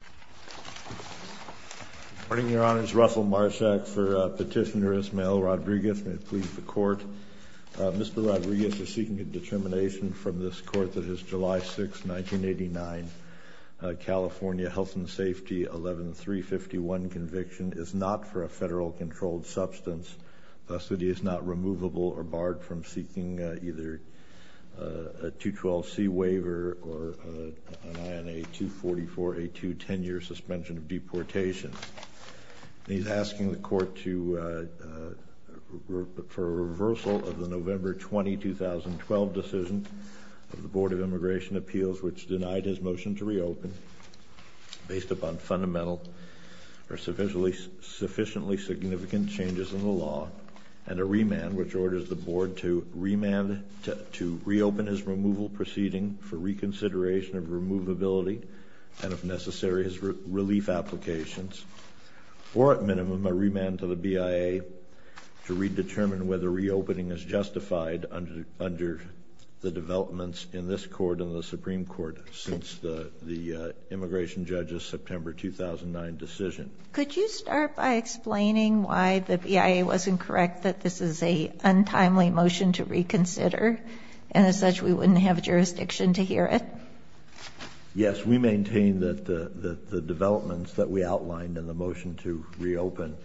Good morning, Your Honor. It's Russell Marshak for Petitioner Ismael Rodriguez. May it please the Court. Mr. Rodriguez is seeking a determination from this Court that his July 6, 1989 California Health and Safety 11351 conviction is not for a federal controlled substance, thus that he is not eligible for a 10-year suspension of deportation. He's asking the Court for a reversal of the November 20, 2012 decision of the Board of Immigration Appeals, which denied his motion to reopen based upon fundamental or sufficiently significant changes in the law, and a remand, which denied his relief applications, or, at minimum, a remand to the BIA to redetermine whether reopening is justified under the developments in this Court and the Supreme Court since the immigration judge's September 2009 decision. Could you start by explaining why the BIA wasn't correct that this is a development that we outlined in the motion to reopen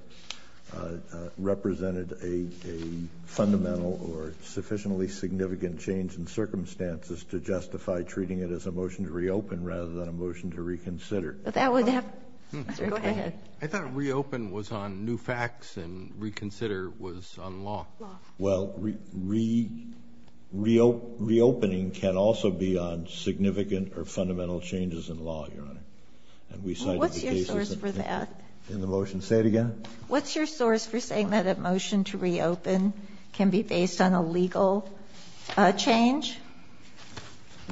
represented a fundamental or sufficiently significant change in circumstances to justify treating it as a motion to reopen rather than a motion to reconsider? I thought reopen was on new facts and reconsider was on law. Well, reopening can also be on significant or significant changes. And we cited the cases that we think in the motion. Say it again? What's your source for saying that a motion to reopen can be based on a legal change?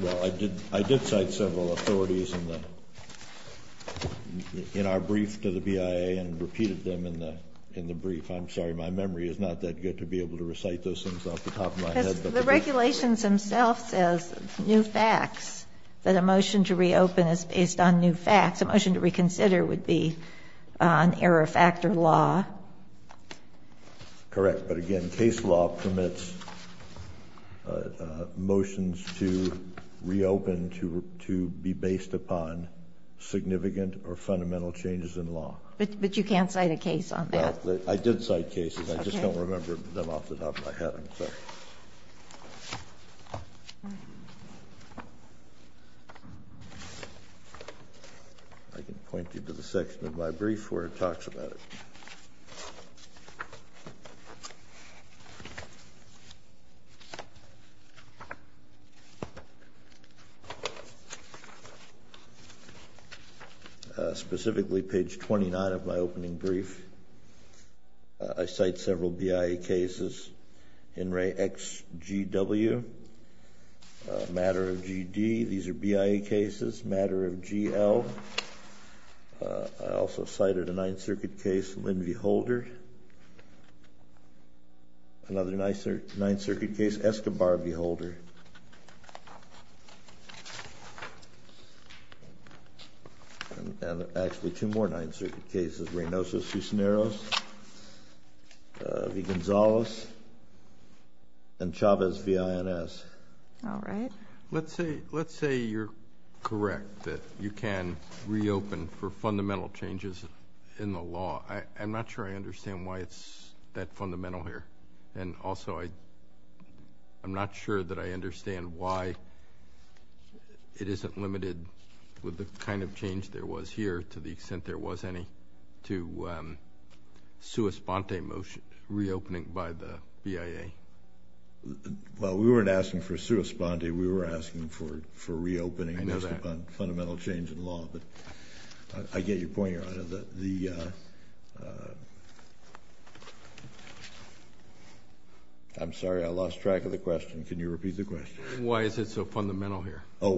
Well, I did cite several authorities in the – in our brief to the BIA and repeated them in the brief. I'm sorry. My memory is not that good to be able to recite those things off the top of my head. The regulations themselves says new facts, that a motion to reopen is based on new facts. A motion to reconsider would be an error factor law. Correct. But, again, case law permits motions to reopen to be based upon significant or fundamental changes in law. But you can't cite a case on that? I did cite cases. I just don't remember them off the top of my head. I'm sorry. I can point you to the section of my brief where it talks about it. Specifically, page 29 of my opening brief, I cite several BIA cases. Henry XGW, Matter of GD, these are BIA cases. Matter of GL, I also cited a Ninth Circuit case, Lynn V. Holder, another Ninth Circuit case, Escobar V. Holder, and actually two more Ninth Circuit cases, Reynoso, Cisneros, V. Gonzales, and Chavez V. INS. All right. Let's say you're correct that you can reopen for fundamental changes in the law. I'm not sure I understand why it's that fundamental here. And also, I'm not sure that I understand why it isn't limited with the kind of change there was here, to the extent there was any, to a sua sponte motion, reopening by the BIA. Well, we weren't asking for sua sponte. We were asking for reopening based upon fundamental change in law. But I get your point, Your Honor, that the, I'm sorry. I lost track of the question. Can you repeat the question? Oh, why is it fundamental? Well,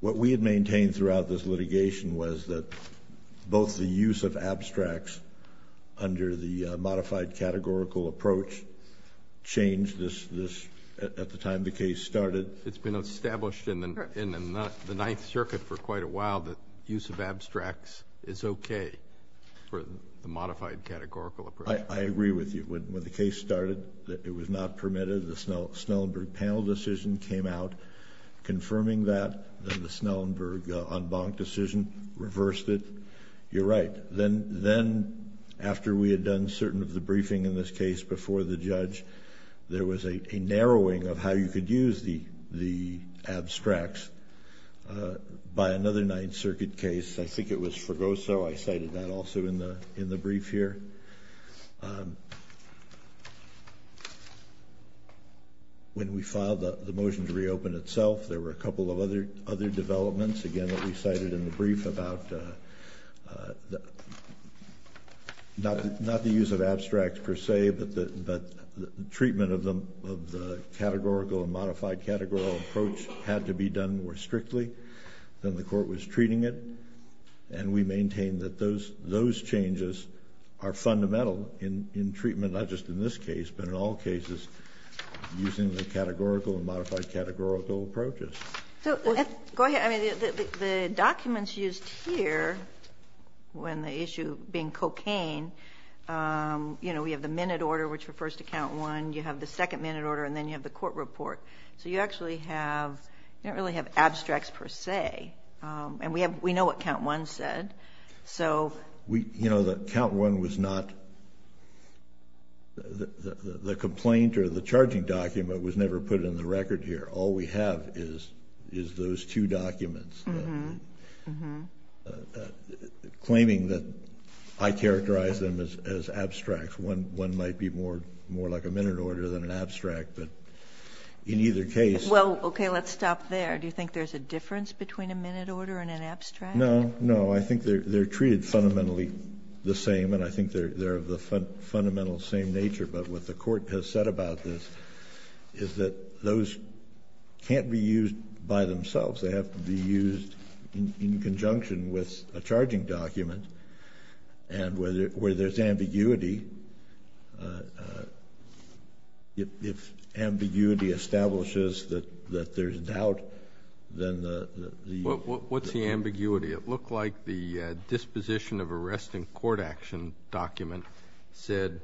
what we had maintained throughout this litigation was that both the use of abstracts under the modified categorical approach changed this, at the time the case started. It's been established in the Ninth Circuit for quite a while that use of abstracts is okay for the modified categorical approach. I agree with you. When the case started, it was not permitted. The Snellenberg panel decision came out confirming that, then the Snellenberg en banc decision reversed it. You're right. Then after we had done certain of the briefing in this case before the judge, there was a narrowing of how you could use the abstracts by another Ninth Circuit case. I think it was Fregoso. I cited that also in the brief here. When we filed the motion to reopen itself, there were a couple of other developments, again, that we cited in the brief about, not the use of abstracts per se, but the treatment of the categorical and modified categorical approach had to be done more strictly than the court was treating it. We maintain that those changes are fundamental in treatment, not just in this case, but in all cases, using the categorical and modified categorical approaches. Go ahead. The documents used here, when the issue being cocaine, we have the minute order, which refers to count one. You have the second minute order, and then you have the court report. You actually have, you don't really have abstracts per se. And we know what count one said, so. You know, the count one was not, the complaint or the charging document was never put in the record here. All we have is those two documents, claiming that I characterize them as abstracts. One might be more like a minute order than an abstract, but in either case. Well, okay, let's stop there. Do you think there's a difference between a minute order and an abstract? No, no. I think they're treated fundamentally the same, and I think they're of the fundamental same nature. But what the court has said about this is that those can't be used by themselves. They have to be used in conjunction with a charging document. And where there's ambiguity, if ambiguity establishes that there's doubt, then the- What's the ambiguity? It looked like the disposition of arrest in court action document said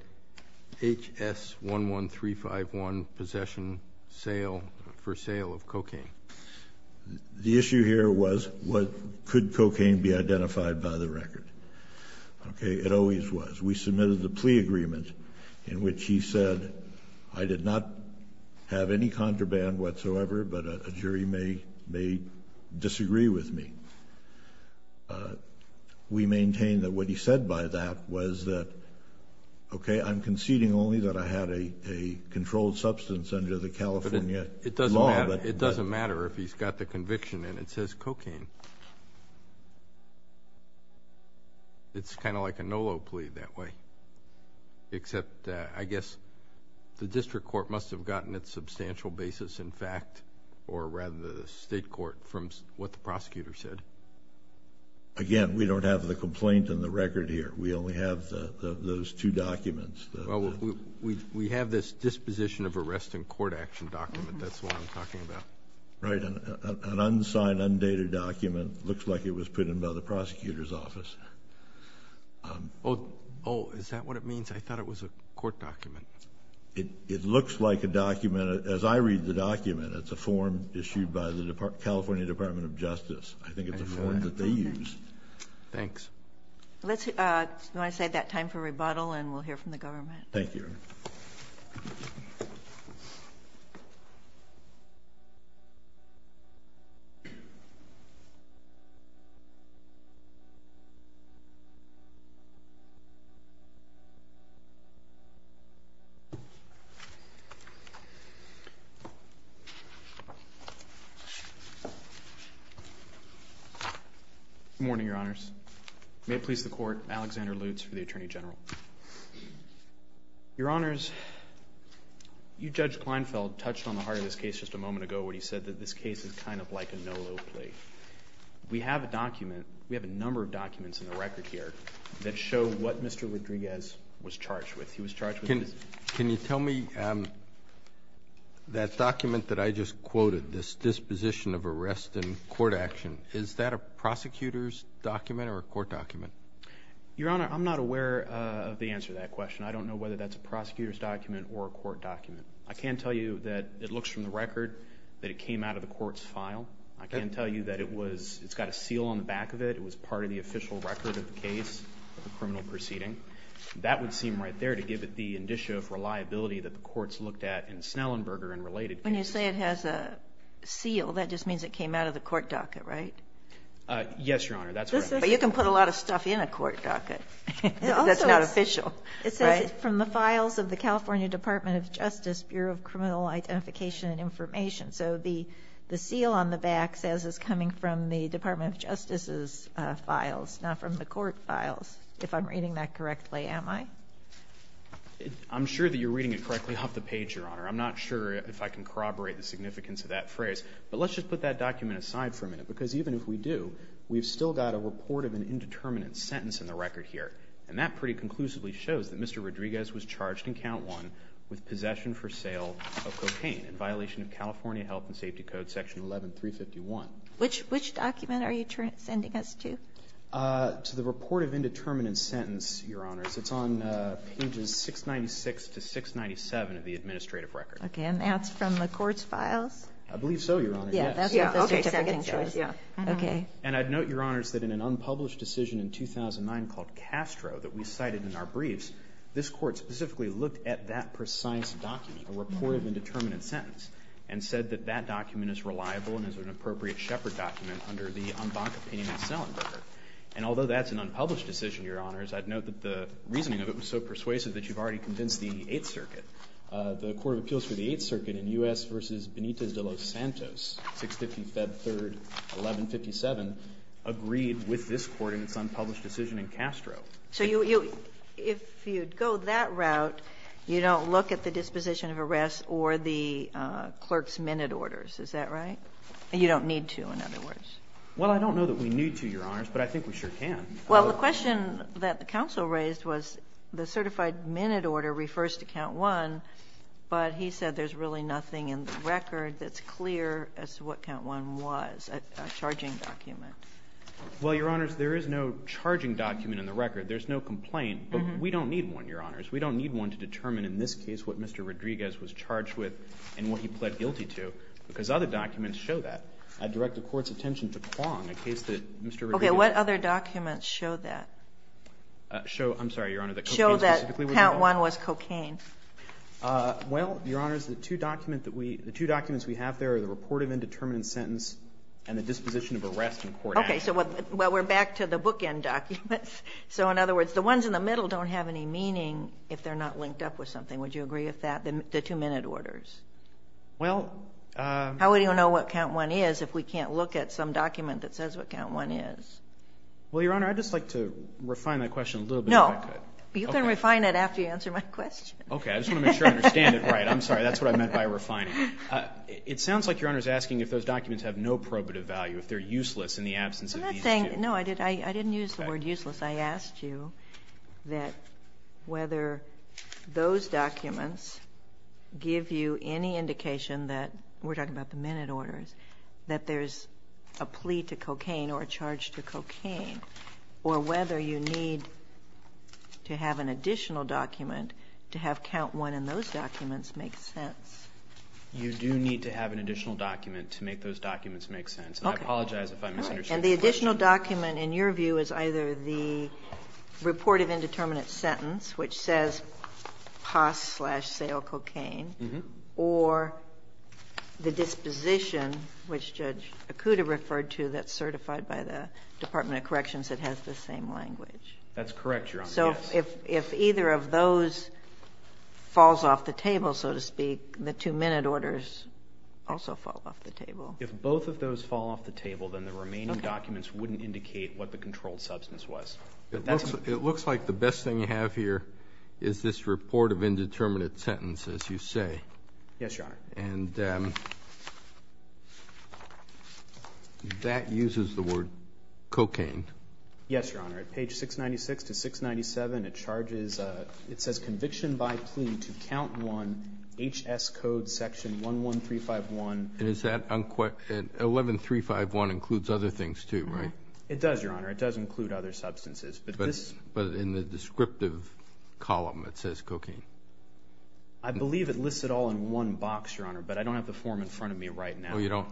HS11351, possession for sale of cocaine. The issue here was, could cocaine be identified by the record? Okay, it always was. We submitted the plea agreement in which he said, I did not have any contraband whatsoever, but a jury may disagree with me. We maintain that what he said by that was that, okay, I'm conceding only that I had a controlled substance under the California law. But it doesn't matter. It doesn't matter if he's got the conviction in it. It says cocaine. It's kind of like a NOLO plea that way, except I guess the district court must have gotten its substantial basis in fact, or rather, the state court, from what the prosecutor said. Again, we don't have the complaint in the record here. We only have those two documents. Well, we have this disposition of arrest in court action document. That's what I'm talking about. Right, an unsigned, undated document. Looks like it was put in by the prosecutor's office. Is that what it means? I thought it was a court document. It looks like a document. As I read the document, it's a form issued by the California Department of Justice. I think it's a form that they use. Let's, you want to save that time for rebuttal, and we'll hear from the government. Thank you. Good morning, Your Honors. May it please the court, Alexander Lutz for the Attorney General. Your Honors, you, Judge Kleinfeld, touched on the heart of this case just a moment ago when he said that this case is kind of like a NOLO plea. We have a document, we have a number of documents in the record here that show what Mr. Rodriguez was charged with. He was charged with this. Can you tell me that document that I just quoted, this disposition of arrest in court action, is that a prosecutor's document or a court document? Your Honor, I'm not aware of the answer to that question. I don't know whether that's a prosecutor's document or a court document. I can tell you that it looks from the record that it came out of the court's file. I can tell you that it was, it's got a seal on the back of it. It was part of the official record of the case, the criminal proceeding. That would seem right there to give it the indicia of reliability that the courts looked at in Snellenberger and related cases. When you say it has a seal, that just means it came out of the court docket, right? Yes, Your Honor, that's right. But you can put a lot of stuff in a court docket that's not official. It says from the files of the California Department of Justice, Bureau of Criminal Identification and Information. So the seal on the back says it's coming from the Department of Justice's files, not from the court files, if I'm reading that correctly, am I? I'm sure that you're reading it correctly off the page, Your Honor. I'm not sure if I can corroborate the significance of that phrase. But let's just put that document aside for a minute, because even if we do, we've still got a report of an indeterminate sentence in the record here. And that pretty conclusively shows that Mr. Rodriguez was charged in count one with possession for sale of cocaine in violation of California Health and Safety Code, section 11351. Which document are you sending us to? To the report of indeterminate sentence, Your Honors. It's on pages 696 to 697 of the administrative record. Okay, and that's from the court's files? I believe so, Your Honor, yes. Yeah, that's what the certificate shows, yeah. Okay. And I'd note, Your Honors, that in an unpublished decision in 2009 called Castro that we cited in our briefs, this court specifically looked at that precise document, a report of indeterminate sentence, and said that that document is reliable and is an appropriate shepherd document under the en banc opinion of Selenberger. And although that's an unpublished decision, Your Honors, I'd note that the reasoning of it was so persuasive that you've already convinced the Eighth Circuit. The Court of Appeals for the Eighth Circuit in US versus Benitez de Los Santos, 650 Feb 3, 1157, agreed with this court in its unpublished decision in Castro. So you go that route, you don't look at the disposition of arrest or the clerk's minute orders, is that right? You don't need to, in other words. Well, I don't know that we need to, Your Honors, but I think we sure can. Well, the question that the counsel raised was the certified minute order refers to count one, but he said there's really nothing in the record that's clear as to what count one was, a charging document. Well, Your Honors, there is no charging document in the record. There's no complaint, but we don't need one, Your Honors. We don't need one to determine, in this case, what Mr. Rodriguez was charged with and what he pled guilty to, because other documents show that. I'd direct the Court's attention to Quong, a case that Mr. Rodriguez Okay. What other documents show that? Show, I'm sorry, Your Honor, that cocaine specifically was involved? Show that count one was cocaine. Well, Your Honors, the two documents that we – the two documents we have there are the report of indeterminate sentence and the disposition of arrest in court Okay. So what – well, we're back to the bookend documents. So, in other words, the ones in the middle don't have any meaning if they're not linked up with something. Would you agree with that, the two minute orders? Well, How would you know what count one is if we can't look at some document that says what count one is? Well, Your Honor, I'd just like to refine that question a little bit, if I could. No. You can refine it after you answer my question. Okay. I just want to make sure I understand it right. I'm sorry. That's what I meant by refining. It sounds like Your Honor is asking if those documents have no probative value, if they're useless in the absence of these two. I'm not saying – no, I didn't use the word useless. I asked you that whether those documents give you any indication that – we're talking about the minute orders – that there's a plea to cocaine or a charge to cocaine, or whether you need to have an additional document to have count one in You do need to have an additional document to make those documents make sense. Okay. And I apologize if I misunderstood the question. And the additional document, in your view, is either the report of indeterminate sentence, which says POS slash sale cocaine, or the disposition, which Judge Ikuda referred to, that's certified by the Department of Corrections that has the same language. That's correct, Your Honor, yes. If either of those falls off the table, so to speak, the two minute orders also fall off the table. If both of those fall off the table, then the remaining documents wouldn't indicate what the controlled substance was. It looks like the best thing you have here is this report of indeterminate sentence, as you say. Yes, Your Honor. And that uses the word cocaine. Yes, Your Honor. At page 696 to 697, it charges, it says conviction by plea to count one, HS code section 11351. And is that 11351 includes other things, too, right? It does, Your Honor. It does include other substances. But in the descriptive column, it says cocaine. I believe it lists it all in one box, Your Honor. But I don't have the form in front of me right now. Oh, you don't?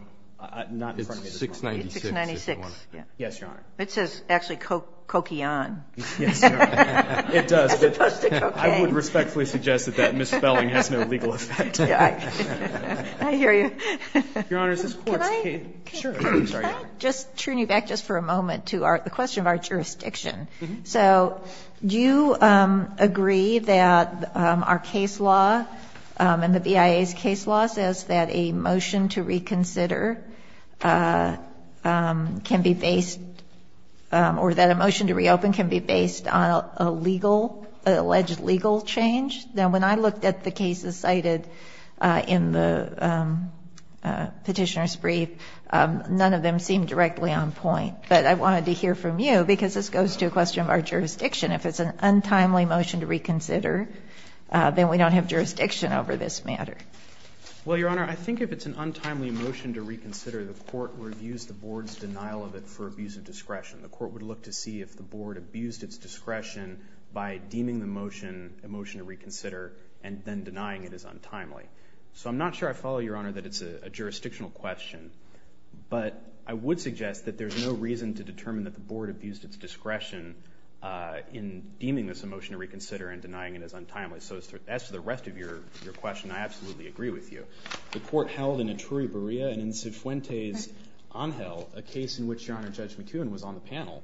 Not in front of me. It's 696. It's 696. Yes, Your Honor. It says actually coquian. Yes, Your Honor. It does. It's supposed to be cocaine. I would respectfully suggest that that misspelling has no legal effect. I hear you. Your Honor, this Court's case. Can I just turn you back just for a moment to our question of our jurisdiction? So do you agree that our case law and the BIA's case law says that a motion to reconsider can be based or that a motion to reopen can be based on a legal, an alleged legal change? Now, when I looked at the cases cited in the Petitioner's brief, none of them seemed directly on point. But I wanted to hear from you, because this goes to a question of our jurisdiction. If it's an untimely motion to reconsider, then we don't have jurisdiction over this matter. Well, Your Honor, I think if it's an untimely motion to reconsider, the Court reviews the Board's denial of it for abuse of discretion. The Court would look to see if the Board abused its discretion by deeming the motion a motion to reconsider and then denying it as untimely. So I'm not sure I follow, Your Honor, that it's a jurisdictional question. But I would suggest that there's no reason to determine that the Board abused its discretion in deeming this a motion to reconsider and denying it as untimely. So as to the rest of your question, I absolutely agree with you. The Court held in Etruria-Berea and in Cifuentes-Angel, a case in which, Your Honor, Judge McKeown was on the panel,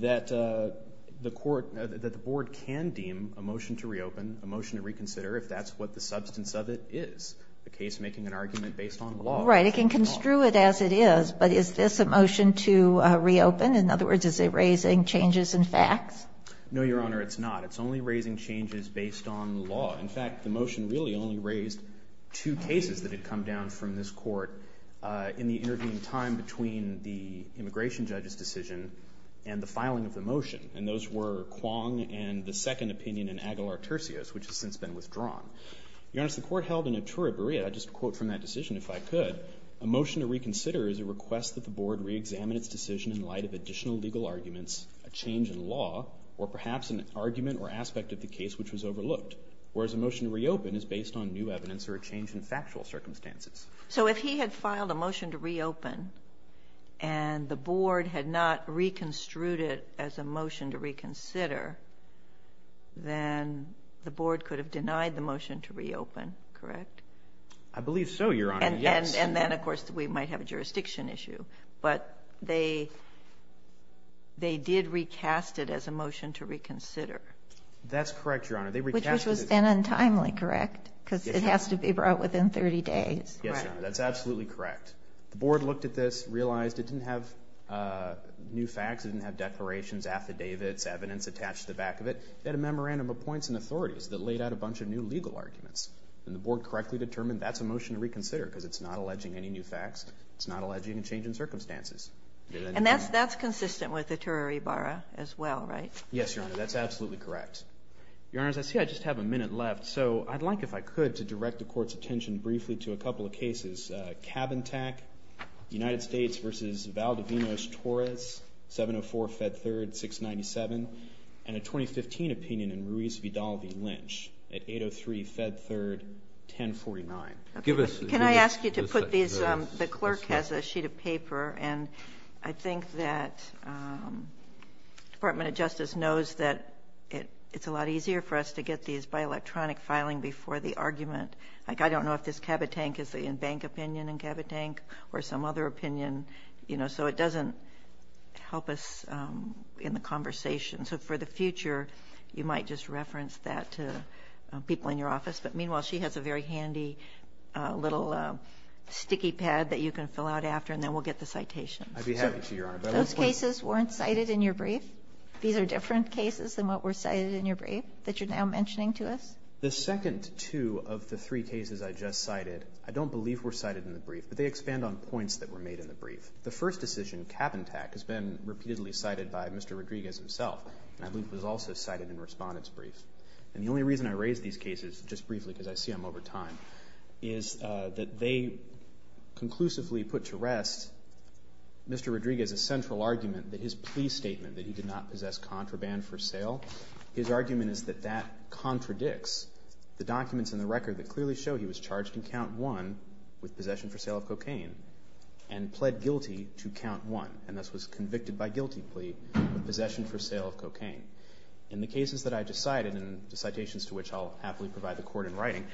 that the Court – that the Board can deem a motion to reopen, a motion to reconsider, if that's what the substance of it is, a case making an argument based on law. Right. It can construe it as it is, but is this a motion to reopen? In other words, is it raising changes in facts? No, Your Honor, it's not. It's only raising changes based on law. In fact, the motion really only raised two cases that had come down from this Court in the intervening time between the immigration judge's decision and the filing of the motion, and those were Kwong and the second opinion in Aguilar-Turcios, which has since been withdrawn. Your Honor, as the Court held in Etruria-Berea, just a quote from that decision, if I could, a motion to reconsider is a request that the Board reexamine its decision in light of additional legal arguments, a change in law, or perhaps an argument or aspect of the case which was overlooked, whereas a motion to reopen is based on new evidence or a change in factual circumstances. So if he had filed a motion to reopen and the Board had not reconstrued it as a motion to reconsider, then the Board could have denied the motion to reopen, correct? I believe so, Your Honor, yes. And then, of course, we might have a jurisdiction issue, but they did recast it as a motion to reconsider. That's correct, Your Honor. They recast it as a motion to reconsider. Which was then untimely, correct, because it has to be brought within 30 days. Yes, Your Honor, that's absolutely correct. The Board looked at this, realized it didn't have new facts, it didn't have declarations, affidavits, evidence attached to the back of it. It had a memorandum of points and authorities that laid out a bunch of new legal arguments, and the Board correctly determined that's a motion to reconsider because it's not alleging any new facts, it's not alleging a change in circumstances. And that's consistent with the Tereribara as well, right? Yes, Your Honor, that's absolutely correct. Your Honors, I see I just have a minute left, so I'd like, if I could, to direct the Court's attention briefly to a couple of cases. Cabin Tack, United States v. Valdivinos-Torres, 704-Fed 3rd, 697, and a 2015 opinion in Ruiz-Vidal v. Lynch at 803-Fed 3rd, 1049. Give us the... Can I ask you to put these... The clerk has a sheet of paper, and I think that the Department of Justice knows that it's a lot easier for us to get these by electronic filing before the argument. Like, I don't know if this Cabin Tack is the in-bank opinion in Cabin Tack or some other opinion, you know, so it doesn't help us in the conversation. So for the future, you might just reference that to people in your office. But meanwhile, she has a very handy little sticky pad that you can fill out after, and then we'll get the citations. I'd be happy to, Your Honor. Those cases weren't cited in your brief? These are different cases than what were cited in your brief that you're now mentioning to us? The second two of the three cases I just cited, I don't believe were cited in the brief, but they expand on points that were made in the brief. The first decision, Cabin Tack, has been repeatedly cited by Mr. Rodriguez himself, and I believe was also cited in Respondent's brief. And the only reason I raise these cases, just briefly because I see them over time, is that they conclusively put to rest Mr. Rodriguez's central argument that his plea statement that he did not possess contraband for sale, his argument is that that contradicts the documents in the record that clearly show he was charged in Count 1 with possession for sale of cocaine and pled guilty to Count 1, and thus was convicted by guilty plea with possession for sale of cocaine. In the cases that I just cited, and the citations to which I'll happily provide the court in writing,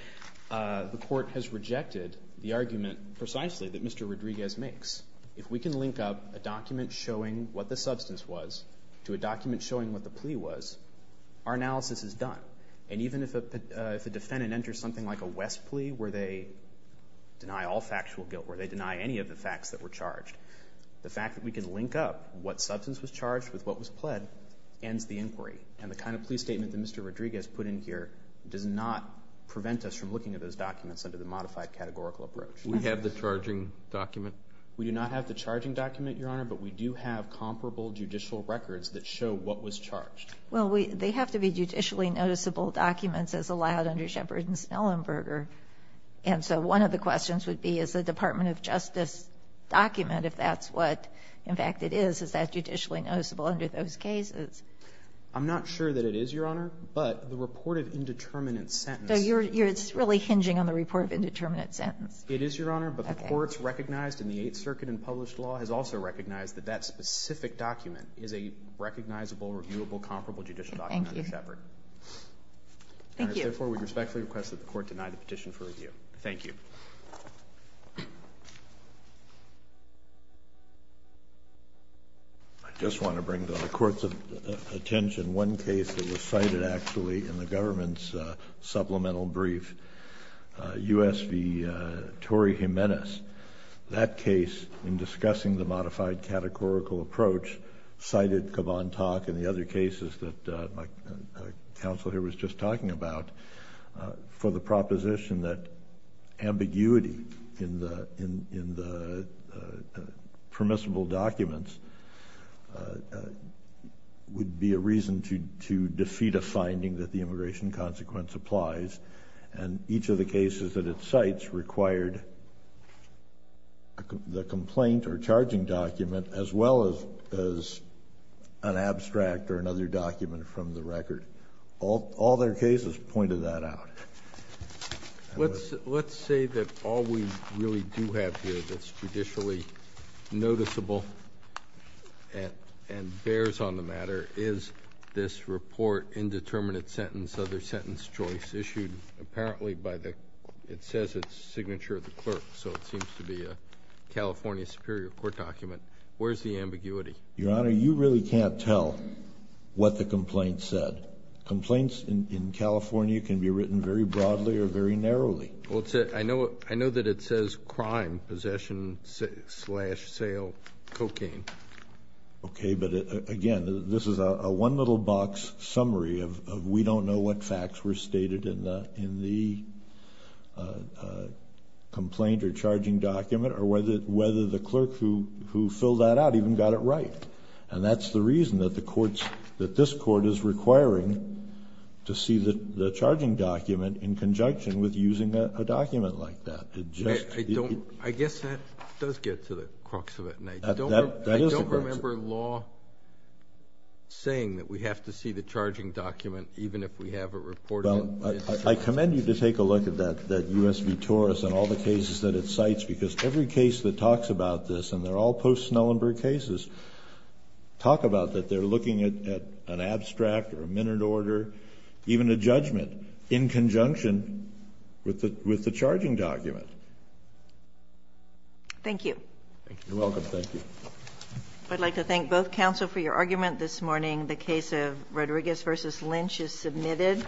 the court has rejected the argument precisely that Mr. Rodriguez makes. If we can link up a document showing what the substance was to a document showing what the plea was, our analysis is done. And even if a defendant enters something like a West plea where they deny all factual guilt, where they deny any of the facts that were charged, the fact that we can link up what substance was charged with what was pled ends the inquiry. And the kind of plea statement that Mr. Rodriguez put in here does not prevent us from looking at those documents under the modified categorical approach. We have the charging document? We do not have the charging document, Your Honor, but we do have comparable judicial records that show what was charged. Well, they have to be judicially noticeable documents as allowed under Shepard and Snellenberger. And so one of the questions would be, is the Department of Justice document, if that's what, in fact, it is, is that judicially noticeable under those cases? I'm not sure that it is, Your Honor, but the report of indeterminate sentence So you're really hinging on the report of indeterminate sentence. It is, Your Honor, but the courts recognized in the Eighth Circuit and published law has also recognized that that specific document is a recognizable, reviewable, comparable judicial document under Shepard. Thank you. And therefore, we respectfully request that the Court deny the petition for review. Thank you. I just want to bring to the Court's attention one case that was cited, actually, in the government's supplemental brief, U.S. v. Torrey Jimenez. That case, in discussing the modified categorical approach, cited Caban-Tock and the other cases that my counsel here was just talking about, for the proposition that ambiguity in the permissible documents would be a reason to defeat a finding that the immigration consequence applies. And each of the cases that it cites required the complaint or charging document as well as an abstract or another document from the record. All their cases pointed that out. Let's say that all we really do have here that's judicially noticeable and bears on the matter is this report, indeterminate sentence, other sentence choice, issued apparently by the... it says it's signature of the clerk, so it seems to be a California Superior Court document. Where's the ambiguity? Your Honor, you really can't tell what the complaint said. Complaints in California can be written very broadly or very narrowly. Well, I know that it says crime, possession, slash sale, cocaine. Okay, but again, this is a one little box summary of we don't know what facts were stated in the complaint or charging document or whether the clerk who filled that out even got it right. And that's the reason that this court is requiring to see the charging document in conjunction with using a document like that. I guess that does get to the crux of it, and I don't remember law saying that we have to see the charging document even if we have a report of it. I commend you to take a look at that USB Taurus and all the cases that it cites because every case that talks about this, and they're all post-Snellenburg cases, talk about that they're looking at an abstract or a minute order, even a judgment in conjunction with the charging document. Thank you. You're welcome. Thank you. I'd like to thank both counsel for your argument this morning. The case of Rodriguez v. Lynch is submitted.